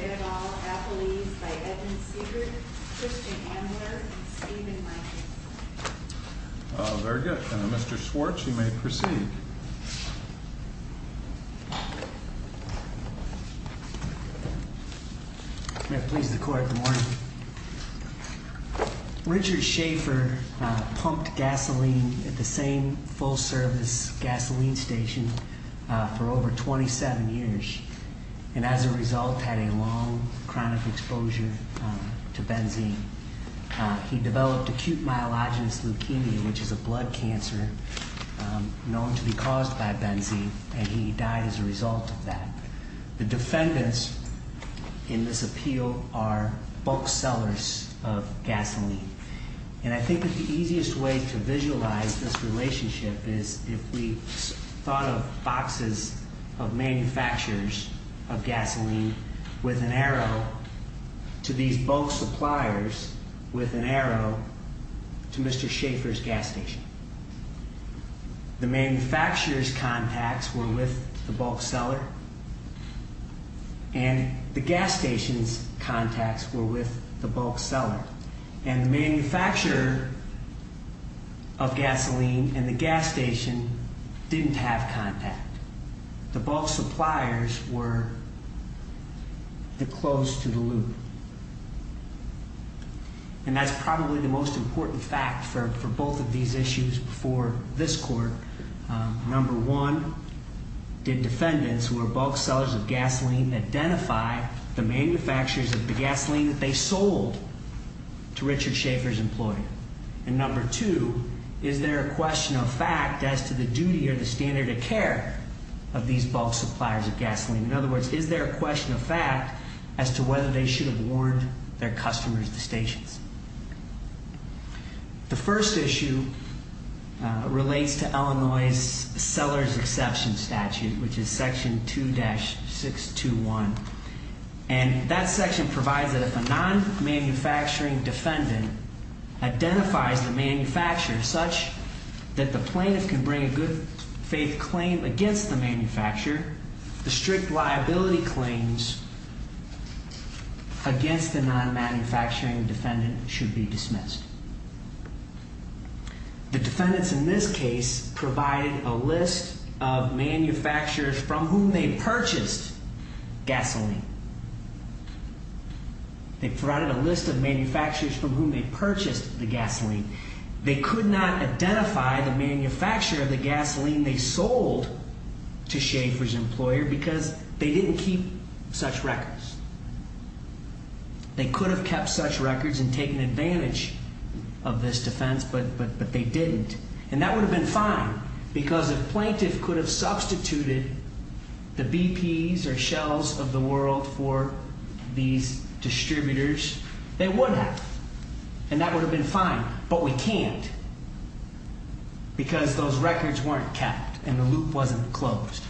et al., Appellees by Edmund Siegert, Christian Andler, and Stephen Michaels. Very good. Mr. Schwartz, you may proceed. May it please the Court, good morning. Richard Schaefer pumped gasoline at the same full-service gasoline station for over 27 years, and as a result had a long chronic exposure to benzene. He developed acute myelogenous leukemia, which is a blood cancer known to be caused by benzene, and he died as a result of that. The defendants in this appeal are bulk sellers of gasoline, and I think that the easiest way to visualize this relationship is if we thought of boxes of manufacturers of gasoline with an arrow to these bulk suppliers with an arrow to Mr. Schaefer's gas station. The manufacturer's contacts were with the bulk seller, and the gas station's contacts were with the bulk seller, and the manufacturer of gasoline and the gas station didn't have contact. The bulk suppliers were the closed to the loop, and that's probably the most important fact for both of these issues before this Court. Number one, did defendants who are bulk sellers of gasoline identify the manufacturers of the gasoline that they sold to Richard Schaefer's employer? And number two, is there a question of fact as to the duty or the standard of care of these bulk suppliers of gasoline? In other words, is there a question of fact as to whether they should have warned their The first issue relates to Illinois' seller's exception statute, which is section 2-621, and that section provides that if a non-manufacturing defendant identifies the manufacturer such that the plaintiff can bring a good faith claim against the manufacturer, the strict The defendants in this case provided a list of manufacturers from whom they purchased gasoline. They provided a list of manufacturers from whom they purchased the gasoline. They could not identify the manufacturer of the gasoline they sold to Schaefer's employer because they didn't keep such records. They could have kept such records and taken advantage of this defense, but they didn't. And that would have been fine because if plaintiff could have substituted the BPs or shells of the world for these distributors, they would have. And that would have been fine, but we can't because those records weren't kept and the loop wasn't closed.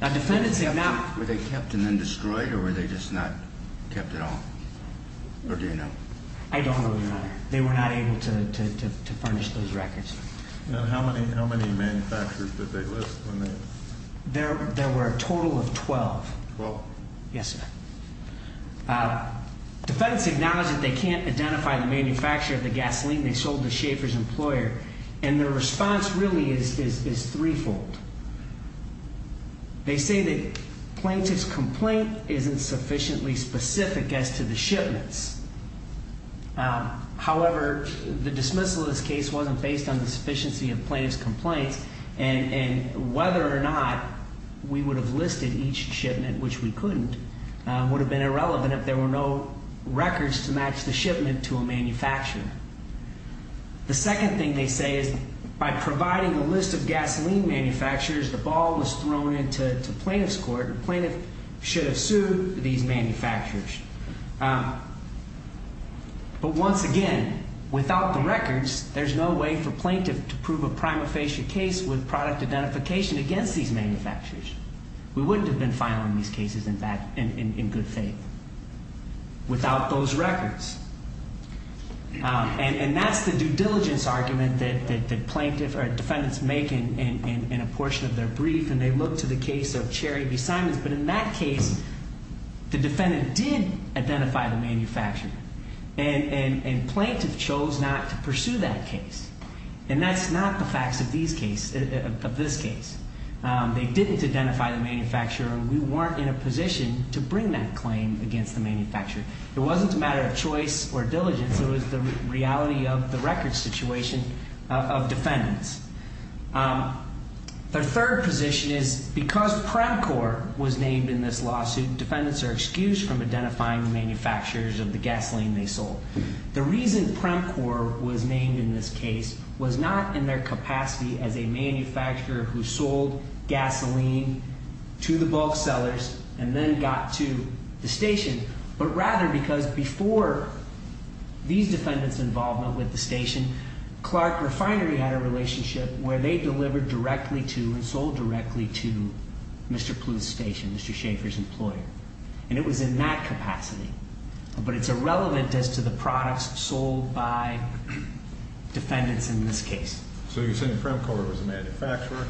Were they kept and then destroyed, or were they just not kept at all, or do you know? I don't know, Your Honor. They were not able to furnish those records. And how many manufacturers did they list when they? There were a total of 12. Twelve? Yes, sir. Defendants acknowledge that they can't identify the manufacturer of the gasoline they sold to Schaefer's employer, and their response really is three-fold. They say that plaintiff's complaint isn't sufficiently specific as to the shipments. However, the dismissal of this case wasn't based on the sufficiency of plaintiff's complaints and whether or not we would have listed each shipment, which we couldn't, would have been The second thing they say is by providing a list of gasoline manufacturers, the ball was thrown into plaintiff's court, and plaintiff should have sued these manufacturers. But once again, without the records, there's no way for plaintiff to prove a prima facie case with product identification against these manufacturers. We wouldn't have been filing these cases in good faith without those records. And that's the due diligence argument that plaintiff or defendants make in a portion of their brief, and they look to the case of Cherry v. Simons, but in that case, the defendant did identify the manufacturer, and plaintiff chose not to pursue that case. And that's not the facts of these cases, of this case. They didn't identify the manufacturer, and we weren't in a position to bring that claim against the manufacturer. It wasn't a matter of choice or diligence, it was the reality of the record situation of defendants. The third position is because Premcor was named in this lawsuit, defendants are excused from identifying the manufacturers of the gasoline they sold. The reason Premcor was named in this case was not in their capacity as a manufacturer who sold gasoline to the bulk sellers and then got to the station, but rather because before these defendants' involvement with the station, Clark Refinery had a relationship where they delivered directly to and sold directly to Mr. Plew's station, Mr. Schaefer's employer. And it was in that capacity, but it's irrelevant as to the products sold by defendants in this case. So you're saying Premcor was a manufacturer?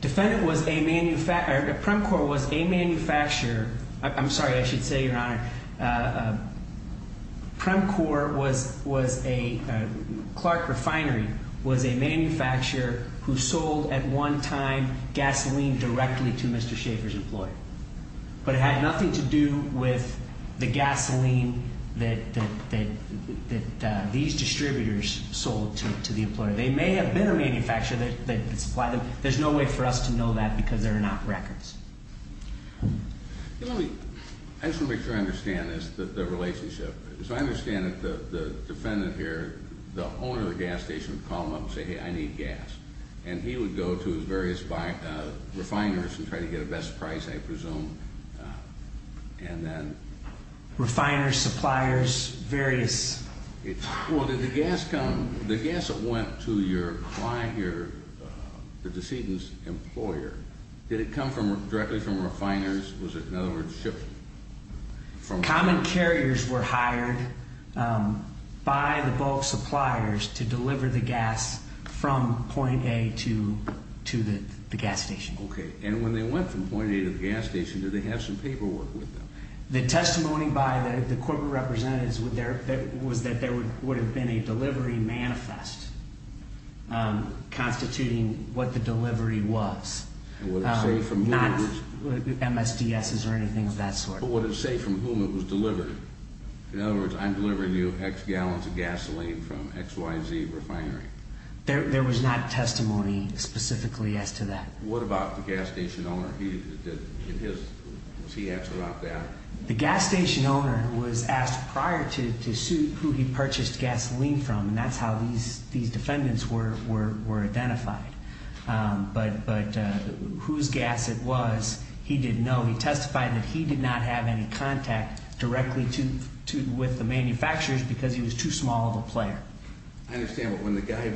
Defendant was a manufacturer, Premcor was a manufacturer, I'm sorry, I should say, your honor, Premcor was a, Clark Refinery was a manufacturer who sold at one time gasoline directly to Mr. Schaefer's employer. But it had nothing to do with the gasoline that these distributors sold to the employer. They may have been a manufacturer that supplied them, there's no way for us to know that because there are not records. Let me, I just want to make sure I understand this, the relationship, so I understand that the defendant here, the owner of the gas station would call him up and say, hey, I need gas. And he would go to his various refiners and try to get a best price, I presume, and then Refiners, suppliers, various Well, did the gas come, the gas that went to your client here, the decedent's employer, did it come directly from refiners? Was it, in other words, shipped from Common carriers were hired by the bulk suppliers to deliver the gas from point A to the gas station. Okay, and when they went from point A to the gas station, did they have some paperwork with them? The testimony by the corporate representatives was that there would have been a delivery manifest constituting what the delivery was. And would it say from whom it was? Not MSDSs or anything of that sort. But would it say from whom it was delivered? In other words, I'm delivering you X gallons of gasoline from XYZ refinery. There was not testimony specifically as to that. What about the gas station owner? Was he asked about that? The gas station owner was asked prior to suit who he purchased gasoline from, and that's how these defendants were identified. But whose gas it was, he didn't know. He testified that he did not have any contact directly with the manufacturers because he was too small of a player. I understand, but when the guy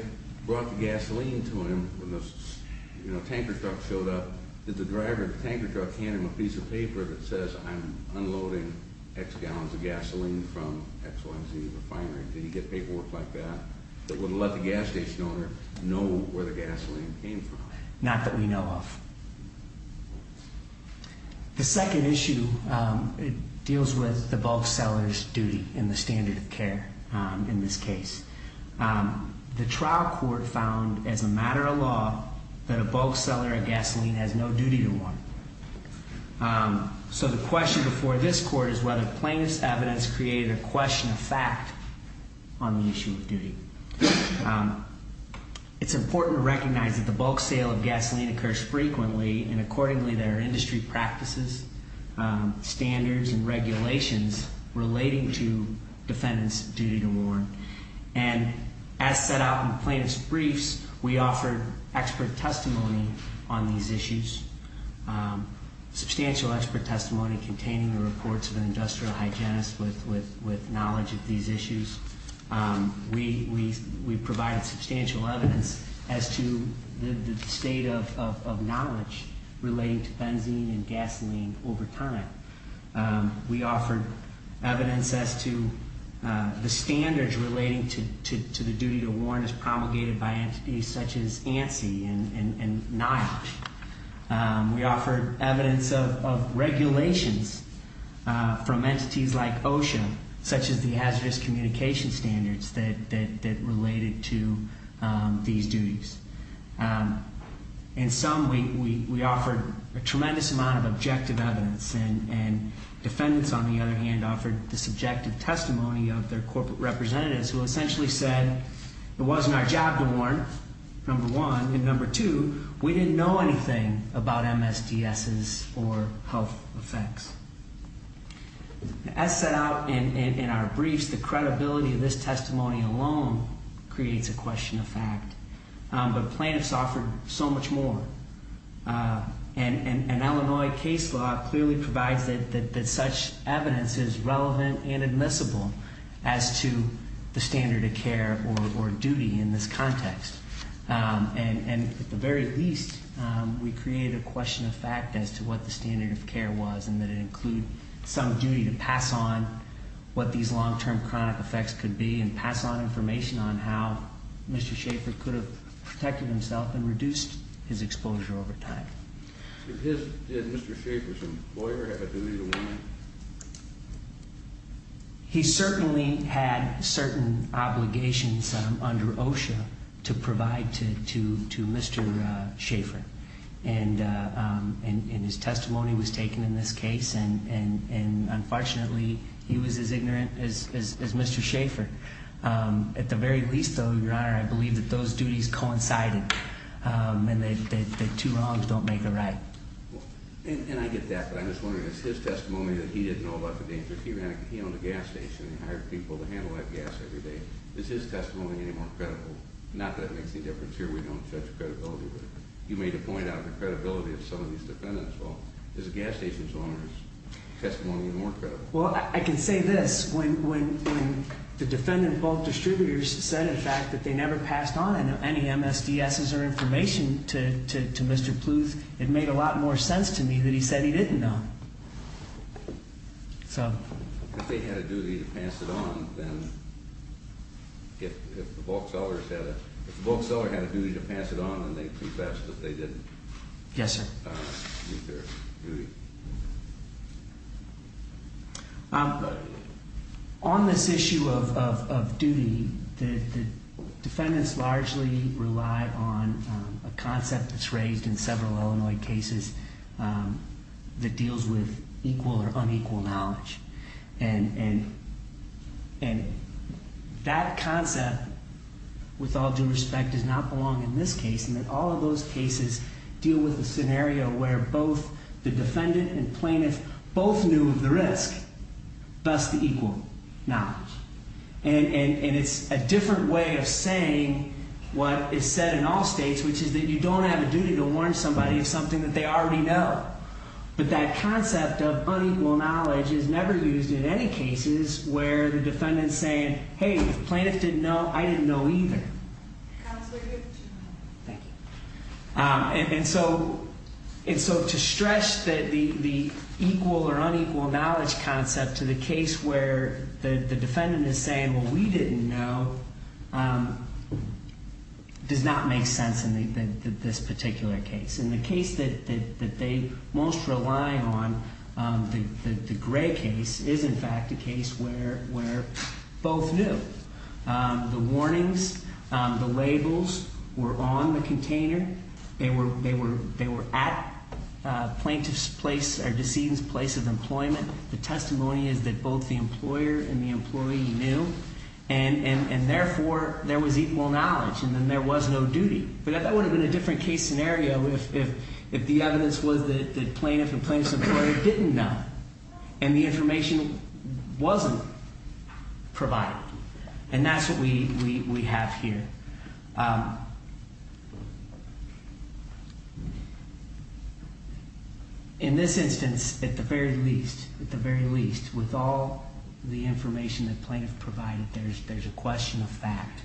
brought the gasoline to him, when the tanker truck showed up, did the driver of the tanker truck hand him a piece of paper that says I'm unloading X gallons of gasoline from XYZ refinery? Did he get paperwork like that that would let the gas station owner know where the gasoline came from? Not that we know of. The second issue deals with the bulk seller's duty in the standard of care in this case. The trial court found as a matter of law that a bulk seller of gasoline has no duty to one. So the question before this court is whether plaintiff's evidence created a question of fact on the issue of duty. It's important to recognize that the bulk sale of gasoline occurs frequently, and accordingly there are industry practices, standards, and regulations relating to defendant's duty to warn. And as set out in plaintiff's briefs, we offer expert testimony on these issues, substantial expert testimony containing the reports of an industrial hygienist with knowledge of these issues. We provide substantial evidence as to the state of knowledge relating to benzene and gasoline over time. We offer evidence as to the standards relating to the duty to warn as promulgated by entities such as ANSI and NIOSH. We offer evidence of regulations from entities like OSHA, such as the hazardous communication standards that related to these duties. In sum, we offer a tremendous amount of objective evidence. And defendants, on the other hand, offered the subjective testimony of their corporate representatives who essentially said it wasn't our job to warn, number one. And number two, we didn't know anything about MSDSs or health effects. As set out in our briefs, the credibility of this testimony alone creates a question of fact. But plaintiffs offered so much more. And Illinois case law clearly provides that such evidence is relevant and admissible as to the standard of care or duty in this context. And at the very least, we create a question of fact as to what the standard of care was and that it include some duty to pass on what these long-term chronic effects could be and pass on information on how Mr. Schaffer could have protected himself and reduced his exposure over time. Did Mr. Schaffer's employer have a duty to warn him? He certainly had certain obligations under OSHA to provide to Mr. Schaffer. And his testimony was taken in this case. And unfortunately, he was as ignorant as Mr. Schaffer. At the very least, though, Your Honor, I believe that those duties coincided and that two wrongs don't make a right. And I get that, but I'm just wondering, it's his testimony that he didn't know about the dangers. He owned a gas station and hired people to handle that gas every day. Is his testimony any more credible? Not that it makes any difference here. We don't judge credibility, but you made a point about the credibility of some of these defendants. Well, is a gas station's owner's testimony more credible? Well, I can say this. When the defendant bulk distributors said, in fact, that they never passed on any MSDSs or information to Mr. Pluth, it made a lot more sense to me that he said he didn't know. If they had a duty to pass it on, then if the bulk seller had a duty to pass it on, then they confessed that they didn't. Yes, sir. On this issue of duty, the defendants largely rely on a concept that's raised in several Illinois cases that deals with equal or unequal knowledge. And that concept, with all due respect, does not belong in this case. And that all of those cases deal with a scenario where both the defendant and plaintiff both knew of the risk, thus the equal knowledge. And it's a different way of saying what is said in all states, which is that you don't have a duty to warn somebody of something that they already know. But that concept of unequal knowledge is never used in any cases where the defendant's saying, hey, the plaintiff didn't know, I didn't know either. Counselor, you have two minutes. Thank you. And so to stretch the equal or unequal knowledge concept to the case where the defendant is saying, well, we didn't know, does not make sense in this particular case. And the case that they most rely on, the Gray case, is in fact a case where both knew. The warnings, the labels were on the container. They were at plaintiff's place or decedent's place of employment. The testimony is that both the employer and the employee knew. And therefore, there was equal knowledge. And then there was no duty. But that would have been a different case scenario if the evidence was that the plaintiff and provided. And that's what we have here. In this instance, at the very least, with all the information the plaintiff provided, there's a question of fact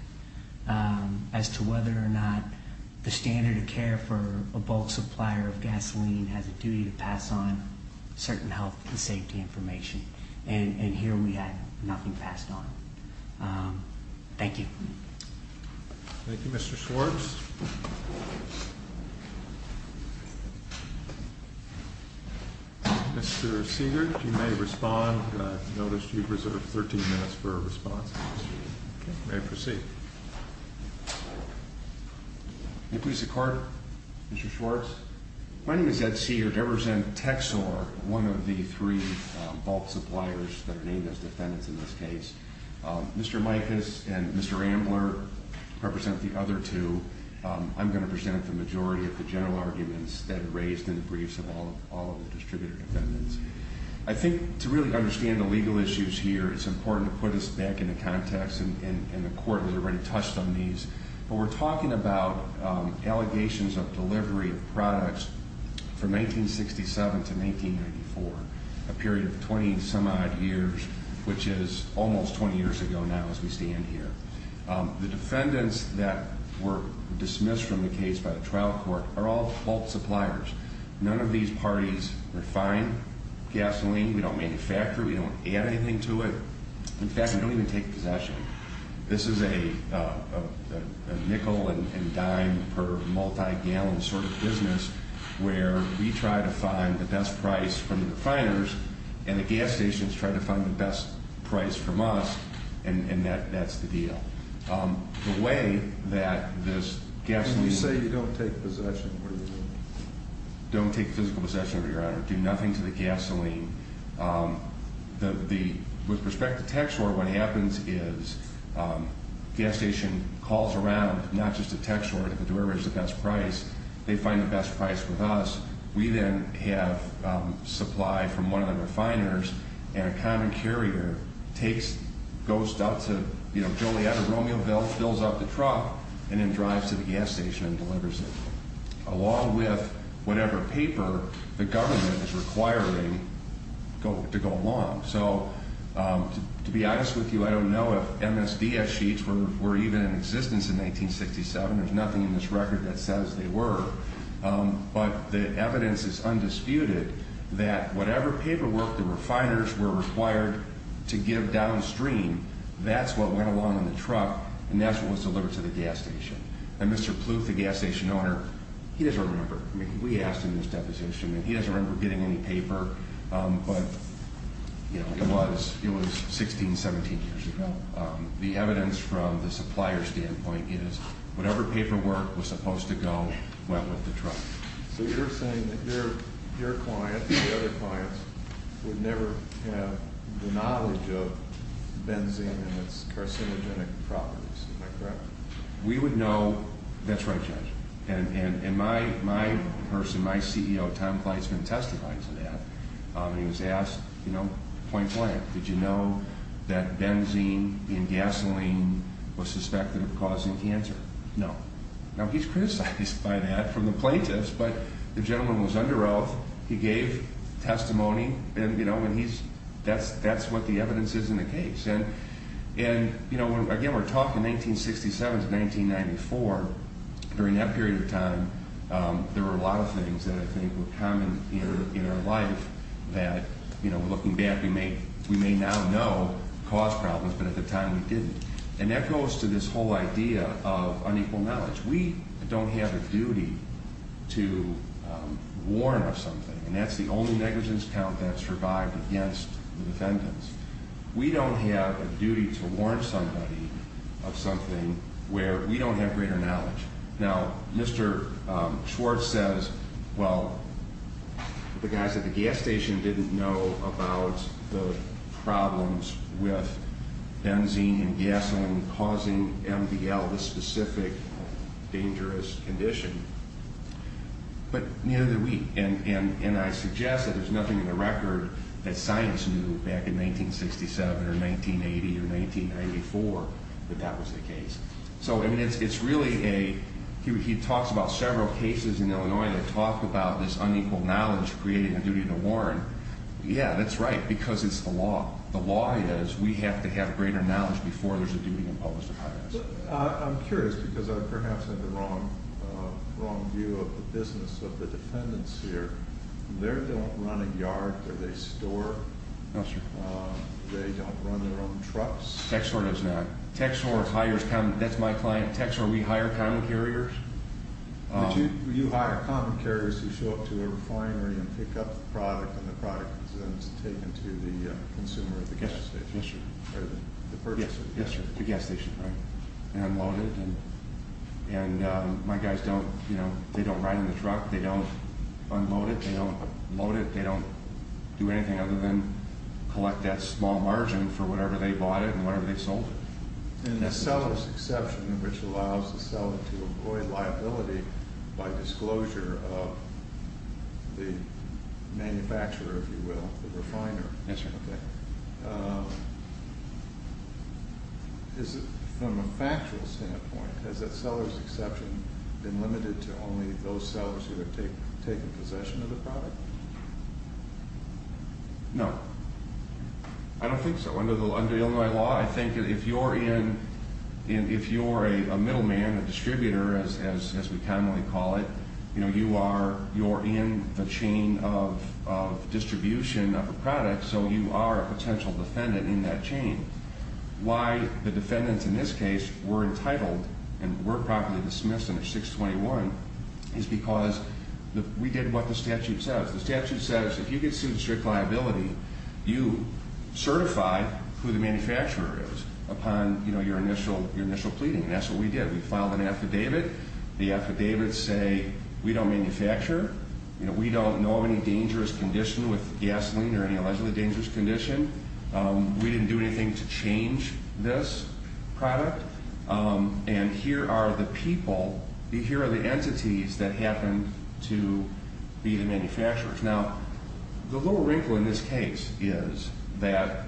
as to whether or not the standard of care for a bulk supplier of gasoline has a duty to pass on certain health and safety information. And here we have nothing passed on. Thank you. Thank you, Mr. Schwartz. Mr. Siegert, you may respond. I've noticed you've reserved 13 minutes for a response. You may proceed. May I please have a card, Mr. Schwartz? My name is Ed Siegert. I represent Texor, one of the three bulk suppliers that are named as defendants in this case. Mr. Micas and Mr. Ambler represent the other two. I'm going to present the majority of the general arguments that are raised in the briefs of all of the distributor defendants. I think to really understand the legal issues here, it's important to put this back into context. And the Court has already touched on these. But we're talking about allegations of delivery of products from 1967 to 1994, a period of 20 some odd years, which is almost 20 years ago now as we stand here. The defendants that were dismissed from the case by the trial court are all bulk suppliers. None of these parties refine gasoline. We don't manufacture it. We don't add anything to it. In fact, we don't even take possession. This is a nickel and dime per multi-gallon sort of business where we try to find the best price from the refiners, and the gas stations try to find the best price from us, and that's the deal. The way that this gasoline... When you say you don't take possession, what do you mean? Don't take physical possession, Your Honor. Do nothing to the gasoline. With respect to tax order, what happens is the gas station calls around not just a tax order to the deliverer who has the best price. They find the best price with us. We then have supply from one of the refiners, and a common carrier goes out to Joliet or Romeoville, fills up the truck, and then drives to the gas station and delivers it. Along with whatever paper the government is requiring to go along. So, to be honest with you, I don't know if MSDS sheets were even in existence in 1967. There's nothing in this record that says they were, but the evidence is undisputed that whatever paperwork the refiners were required to give downstream, that's what went along in the truck, and that's what was delivered to the gas station. And Mr. Pluth, the gas station owner, he doesn't remember. We asked him this deposition, and he doesn't remember getting any paper, but it was 16, 17 years ago. The evidence from the supplier's standpoint is whatever paperwork was supposed to go went with the truck. So you're saying that your client and the other clients would never have the knowledge of benzene and its carcinogenic properties. Am I correct? We would know. That's right, Judge. And my person, my CEO, Tom Kleitzman, testified to that. He was asked, point blank, did you know that benzene in gasoline was suspected of causing cancer? No. Now, he's criticized by that from the plaintiffs, but the gentleman was under oath. He gave testimony, and that's what the evidence is in the case. And, again, we're talking 1967 to 1994. During that period of time, there were a lot of things that I think were common in our life that, looking back, we may now know caused problems, but at the time we didn't. And that goes to this whole idea of unequal knowledge. We don't have a duty to warn of something, and that's the only negligence count that survived against the defendants. We don't have a duty to warn somebody of something where we don't have greater knowledge. Now, Mr. Schwartz says, well, the guys at the gas station didn't know about the problems with benzene and gasoline causing MDL, this specific dangerous condition, but neither did we. And I suggest that there's nothing in the record that science knew back in 1967 or 1980 or 1994 that that was the case. So, I mean, it's really a—he talks about several cases in Illinois that talk about this unequal knowledge creating a duty to warn. Yeah, that's right, because it's the law. The law is we have to have greater knowledge before there's a duty to publish the documents. I'm curious because I perhaps have the wrong view of the business of the defendants here. They don't run a yard, or they store. No, sir. They don't run their own trucks. Tech Store does not. Tech Store hires—that's my client. Tech Store, we hire common carriers. But you hire common carriers who show up to a refinery and pick up the product, and the product is then taken to the consumer at the gas station. Yes, sir. Yes, sir. The gas station, right, and unloaded. And my guys don't—you know, they don't ride in the truck. They don't unload it. They don't load it. They don't do anything other than collect that small margin for whatever they bought it and whatever they sold it. And the seller's exception, which allows the seller to avoid liability by disclosure of the manufacturer, if you will, the refiner. Yes, sir. Okay. From a factual standpoint, has that seller's exception been limited to only those sellers who have taken possession of the product? No. I don't think so. Under Illinois law, I think if you're in—if you're a middleman, a distributor, as we commonly call it, you're in the chain of distribution of a product, so you are a potential defendant in that chain. Why the defendants in this case were entitled and were properly dismissed under 621 is because we did what the statute says. The statute says if you get sued for strict liability, you certify who the manufacturer is upon your initial pleading. And that's what we did. We filed an affidavit. The affidavits say we don't manufacture. We don't know of any dangerous condition with gasoline or any allegedly dangerous condition. We didn't do anything to change this product. And here are the people—here are the entities that happened to be the manufacturers. Now, the little wrinkle in this case is that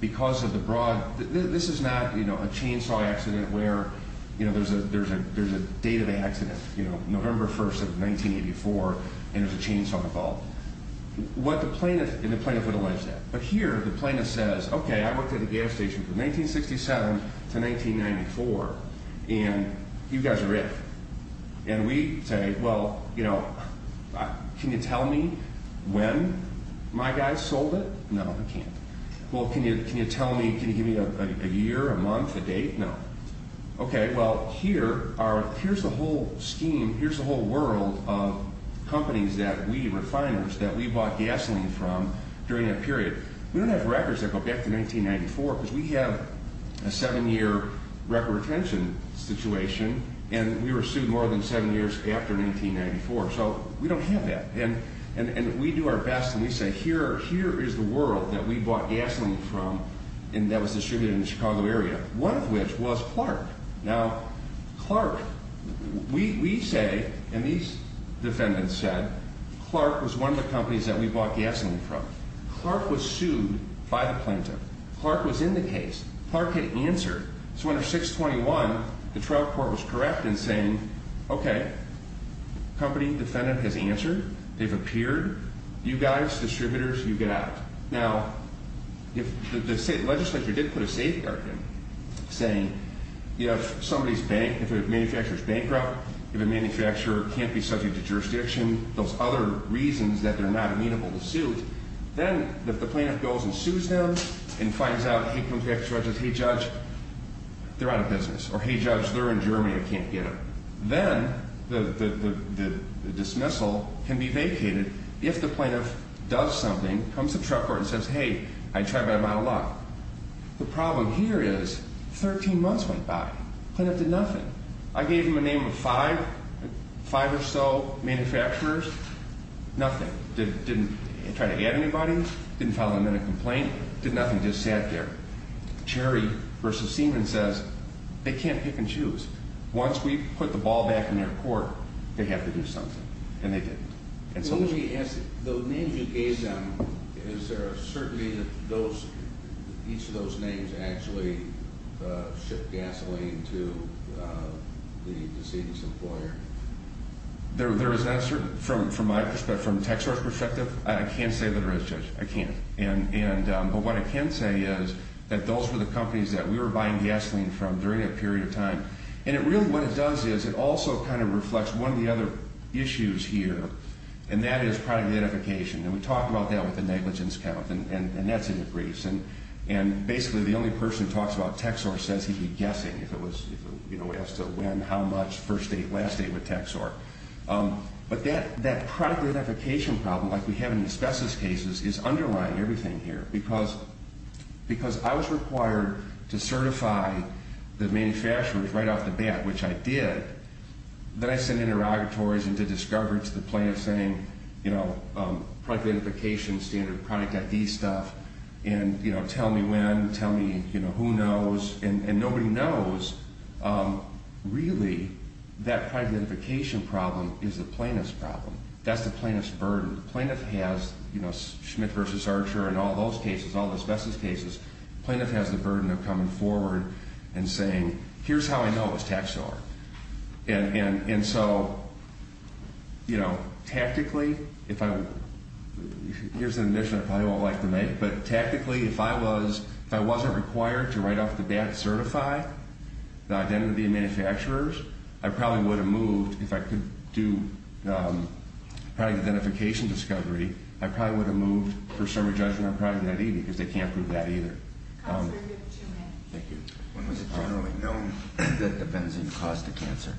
because of the broad—this is not, you know, a chainsaw accident where, you know, there's a date of the accident, you know, November 1st of 1984, and there's a chainsaw involved. What the plaintiff—and the plaintiff would allege that. But here, the plaintiff says, okay, I worked at a gas station from 1967 to 1994, and you guys are it. And we say, well, you know, can you tell me when my guys sold it? No, we can't. Well, can you tell me—can you give me a year, a month, a date? No. Okay, well, here are—here's the whole scheme. Here's the whole world of companies that we, refiners, that we bought gasoline from during that period. We don't have records that go back to 1994 because we have a seven-year record retention situation, and we were sued more than seven years after 1994. So we don't have that. And we do our best, and we say, here is the world that we bought gasoline from and that was distributed in the Chicago area, one of which was Clark. Now, Clark—we say, and these defendants said, Clark was one of the companies that we bought gasoline from. Clark was sued by the plaintiff. Clark was in the case. Clark had answered. So under 621, the trial court was correct in saying, okay, company defendant has answered. They've appeared. You guys, distributors, you get out. Now, if the legislature did put a safeguard in, saying, you know, if somebody's bank—if a manufacturer's bankrupt, if a manufacturer can't be subject to jurisdiction, those other reasons that they're not amenable to suit, then if the plaintiff goes and sues them and finds out, hey, contract judges, hey, judge, they're out of business. Or, hey, judge, they're in Germany. I can't get them. Then the dismissal can be vacated if the plaintiff does something, comes to the trial court and says, hey, I tried my luck. The problem here is 13 months went by. The plaintiff did nothing. I gave them a name of five, five or so manufacturers. Nothing. Didn't try to add anybody. Didn't file them in a complaint. Did nothing. Just sat there. Cherry v. Seaman says, they can't pick and choose. Once we put the ball back in their court, they have to do something. And they didn't. The names you gave them, is there a certainty that those—each of those names actually shipped gasoline to the decedent's employer? There is not a certainty. From my perspective, from TechSource's perspective, I can't say that it is, judge. I can't. But what I can say is that those were the companies that we were buying gasoline from during a period of time. And really what it does is it also kind of reflects one of the other issues here, and that is product identification. And we talk about that with the negligence count. And that's in the briefs. And basically the only person who talks about TechSource says he'd be guessing if it was, you know, as to when, how much, first date, last date with TechSource. But that product identification problem, like we have in asbestos cases, is underlying everything here. Because I was required to certify the manufacturers right off the bat, which I did. Then I sent interrogatories into discovery to the plaintiffs saying, you know, product identification, standard product ID stuff. And, you know, tell me when. Tell me, you know, who knows. And nobody knows. Really, that product identification problem is the plaintiff's problem. That's the plaintiff's burden. The plaintiff has, you know, Schmidt v. Archer and all those cases, all the asbestos cases. The plaintiff has the burden of coming forward and saying, here's how I know it was TechSource. And so, you know, tactically, here's an admission I probably won't like to make, but tactically if I wasn't required to right off the bat certify the identity of the manufacturers, I probably would have moved, if I could do product identification discovery, I probably would have moved for summary judgment on product ID because they can't prove that either. Thank you. When was it generally known that the benzene caused the cancer?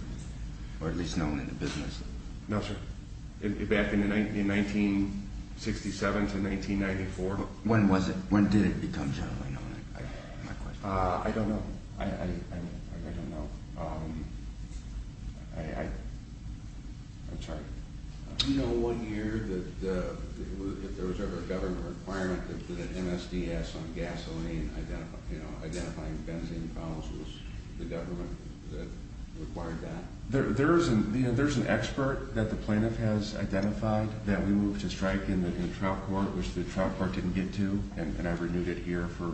Or at least known in the business? No, sir. Back in 1967 to 1994. When was it, when did it become generally known? I don't know. I don't know. I'm sorry. Do you know one year that there was ever a government requirement for the MSDS on gasoline identifying benzene fouls? Was the government required that? There's an expert that the plaintiff has identified that we moved to strike in the trial court, which the trial court didn't get to. And I renewed it here for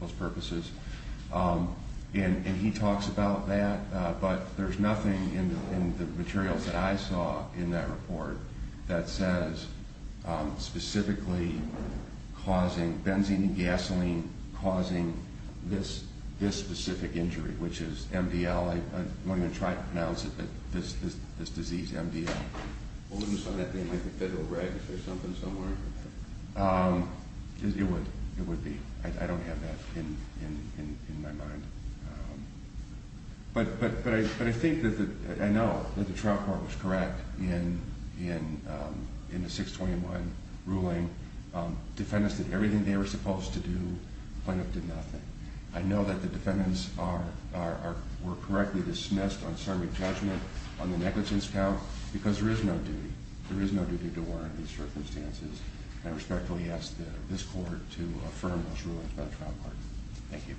those purposes. And he talks about that. But there's nothing in the materials that I saw in that report that says specifically causing benzene and gasoline causing this specific injury, which is MDL. I won't even try to pronounce it, but this disease, MDL. Wouldn't it be something like the federal regs or something somewhere? It would be. I don't have that in my mind. But I think that I know that the trial court was correct in the 621 ruling. Defendants did everything they were supposed to do. The plaintiff did nothing. I know that the defendants were correctly dismissed on summary judgment on the negligence count because there is no duty. There is no duty to warrant these circumstances. I respectfully ask this court to affirm those rulings by the trial court. Thank you.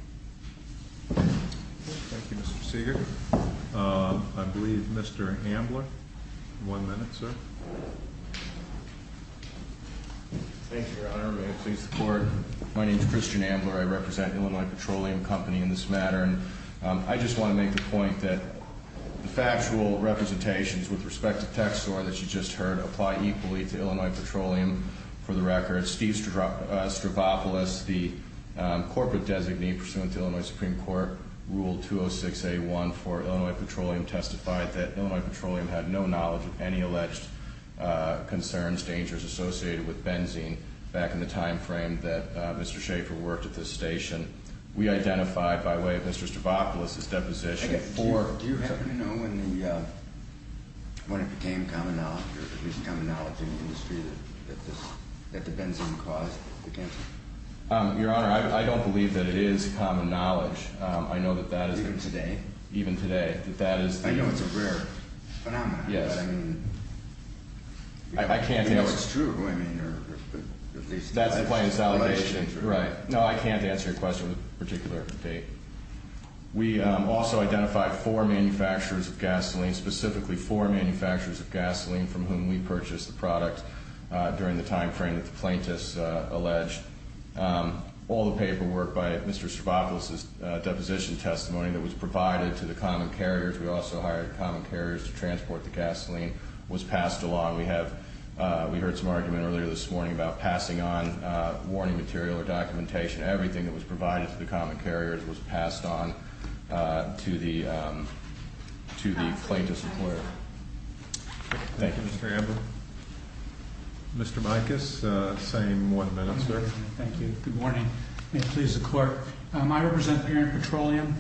Thank you, Mr. Seeger. I believe Mr. Ambler. One minute, sir. Thank you, Your Honor. May it please the court. My name is Christian Ambler. I represent Illinois Petroleum Company in this matter. I just want to make the point that the factual representations with respect to TXOR that you just heard apply equally to Illinois Petroleum for the record. Steve Stravopoulos, the corporate designee pursuant to Illinois Supreme Court Rule 206A1 for Illinois Petroleum, testified that Illinois Petroleum had no knowledge of any alleged concerns, dangers associated with benzene back in the time frame that Mr. Schaefer worked at this station. We identify, by way of Mr. Stravopoulos' deposition, for Do you happen to know when it became common knowledge or there was common knowledge in the industry that the benzene caused the cancer? Your Honor, I don't believe that it is common knowledge. I know that that is Even today? Even today. I know it's a rare phenomenon, but I mean I can't answer I don't know if it's true, but I mean That's the plaintiff's allegation. Right. No, I can't answer your question with a particular date. We also identified four manufacturers of gasoline, specifically four manufacturers of gasoline, from whom we purchased the product during the time frame that the plaintiffs alleged. All the paperwork by Mr. Stravopoulos' deposition testimony that was provided to the common carriers, we also hired common carriers to transport the gasoline, was passed along. We heard some argument earlier this morning about passing on warning material or documentation. Everything that was provided to the common carriers was passed on to the plaintiff's employer. Thank you. Thank you, Mr. Amber. Mr. Micas, same one minute, sir. Thank you. Good morning. May it please the Court. I represent Bering Petroleum.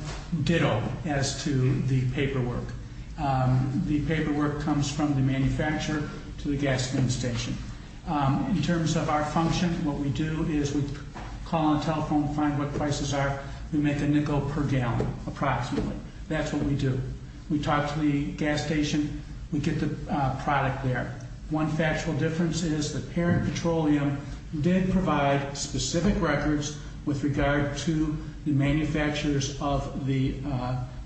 Ditto as to the paperwork. The paperwork comes from the manufacturer to the gas station. In terms of our function, what we do is we call on the telephone, find what prices are. We make a nickel per gallon, approximately. That's what we do. We talk to the gas station. We get the product there. One factual difference is that Bering Petroleum did provide specific records with regard to the manufacturers of the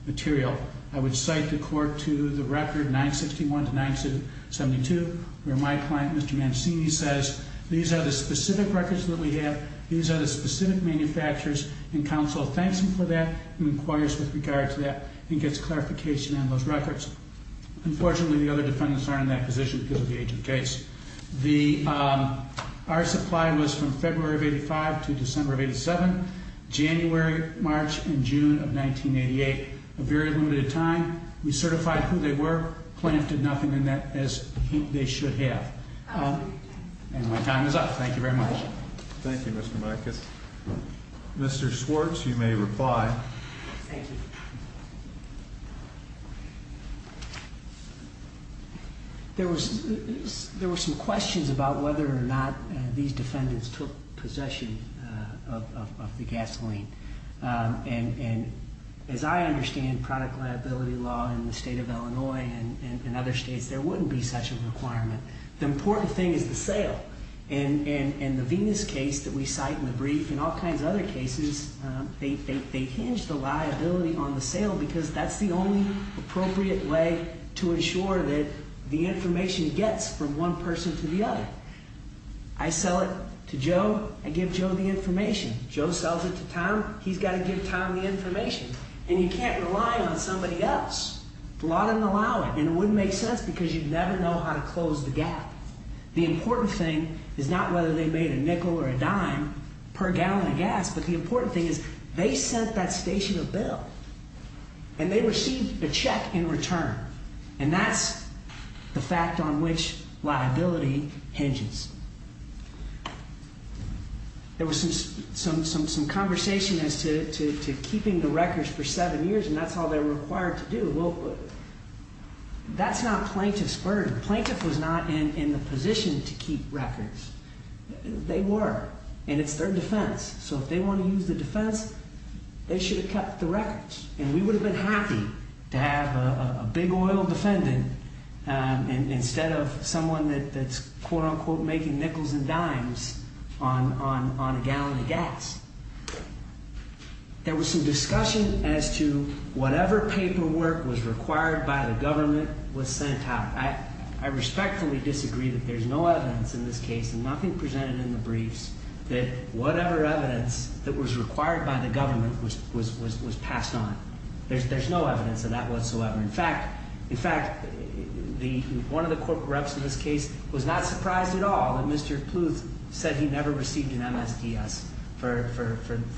material. I would cite the Court to the record 961 to 972, where my client, Mr. Mancini, says, these are the specific records that we have, these are the specific manufacturers, and counsel thanks him for that and inquires with regard to that and gets clarification on those records. Unfortunately, the other defendants aren't in that position because of the age of the case. Our supply was from February of 85 to December of 87, January, March, and June of 1988. A very limited time. We certified who they were. The plaintiff did nothing in that as they should have. And my time is up. Thank you very much. Thank you, Mr. Micas. Mr. Schwartz, you may reply. Thank you. There were some questions about whether or not these defendants took possession of the gasoline. And as I understand product liability law in the state of Illinois and other states, there wouldn't be such a requirement. The important thing is the sale. And the Venus case that we cite in the brief and all kinds of other cases, they hinge the liability on the sale because that's the only appropriate way to ensure that the information gets from one person to the other. I sell it to Joe. I give Joe the information. Joe sells it to Tom. He's got to give Tom the information. And you can't rely on somebody else. The law doesn't allow it. And it wouldn't make sense because you'd never know how to close the gap. The important thing is not whether they made a nickel or a dime per gallon of gas, but the important thing is they sent that station a bill. And they received a check in return. And that's the fact on which liability hinges. There was some conversation as to keeping the records for seven years, and that's all they're required to do. Well, that's not plaintiff's burden. Plaintiff was not in the position to keep records. They were, and it's their defense. So if they want to use the defense, they should have kept the records. And we would have been happy to have a big oil defendant instead of someone that's, quote-unquote, making nickels and dimes on a gallon of gas. There was some discussion as to whatever paperwork was required by the government was sent out. I respectfully disagree that there's no evidence in this case, and nothing presented in the briefs, that whatever evidence that was required by the government was passed on. There's no evidence of that whatsoever. In fact, one of the corporate reps in this case was not surprised at all that Mr. Pluth said he never received an MSDS for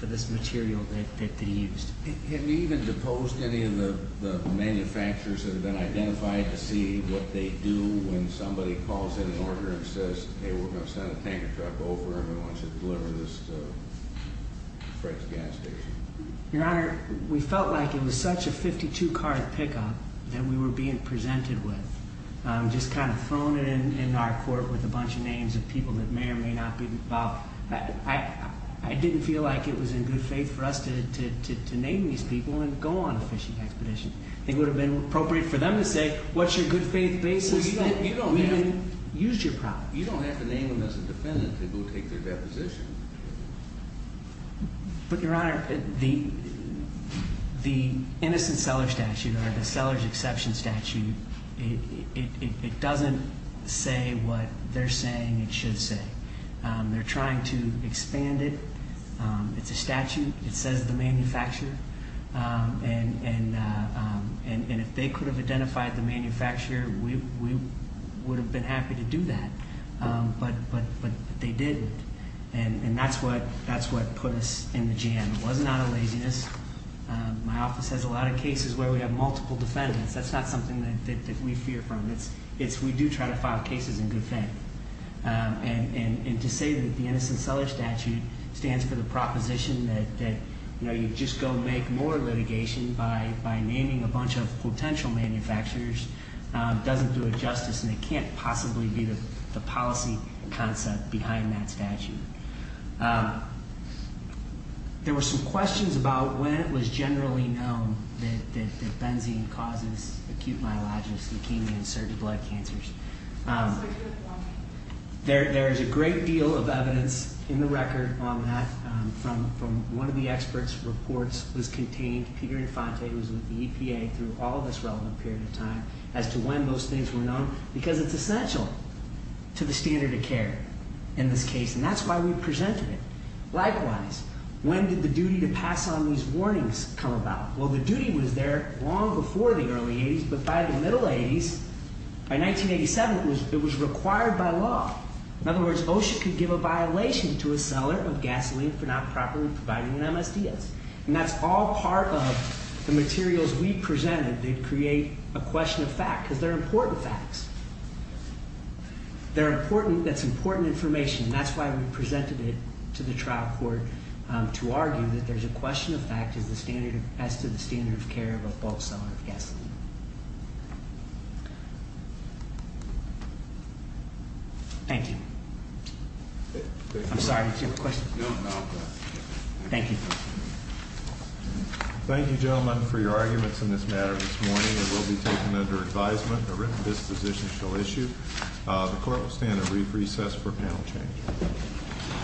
this material that he used. Have you even deposed any of the manufacturers that have been identified to see what they do when somebody calls in an order and says, hey, we're going to send a tanker truck over and we want you to deliver this freight to the gas station? Your Honor, we felt like it was such a 52-card pickup that we were being presented with, just kind of thrown in our court with a bunch of names of people that may or may not be involved. I didn't feel like it was in good faith for us to name these people and go on a fishing expedition. It would have been appropriate for them to say, what's your good faith basis that we can use your property? You don't have to name them as a defendant to go take their deposition. But, Your Honor, the innocent seller statute or the seller's exception statute, it doesn't say what they're saying it should say. They're trying to expand it. It's a statute. It says the manufacturer. And if they could have identified the manufacturer, we would have been happy to do that. But they didn't. And that's what put us in the jam. It wasn't out of laziness. My office has a lot of cases where we have multiple defendants. That's not something that we fear from. It's we do try to file cases in good faith. And to say that the innocent seller statute stands for the proposition that, you know, you just go make more litigation by naming a bunch of potential manufacturers doesn't do it justice. And it can't possibly be the policy concept behind that statute. There were some questions about when it was generally known that benzene causes acute myelogenous leukemia and certain blood cancers. There is a great deal of evidence in the record on that from one of the experts reports was contained. Peter Infante was with the EPA through all this relevant period of time as to when those things were known. Because it's essential to the standard of care in this case. And that's why we presented it. Likewise, when did the duty to pass on these warnings come about? Well, the duty was there long before the early 80s. But by the middle 80s, by 1987, it was required by law. In other words, OSHA could give a violation to a seller of gasoline for not properly providing an MSDS. And that's all part of the materials we presented that create a question of fact. Because they're important facts. They're important. That's important information. And that's why we presented it to the trial court to argue that there's a question of fact as to the standard of care of a bulk seller of gasoline. Thank you. I'm sorry, did you have a question? No, no. Thank you. Thank you, gentlemen, for your arguments in this matter this morning. It will be taken under advisement. A written disposition shall issue. The court will stand at brief recess for panel change.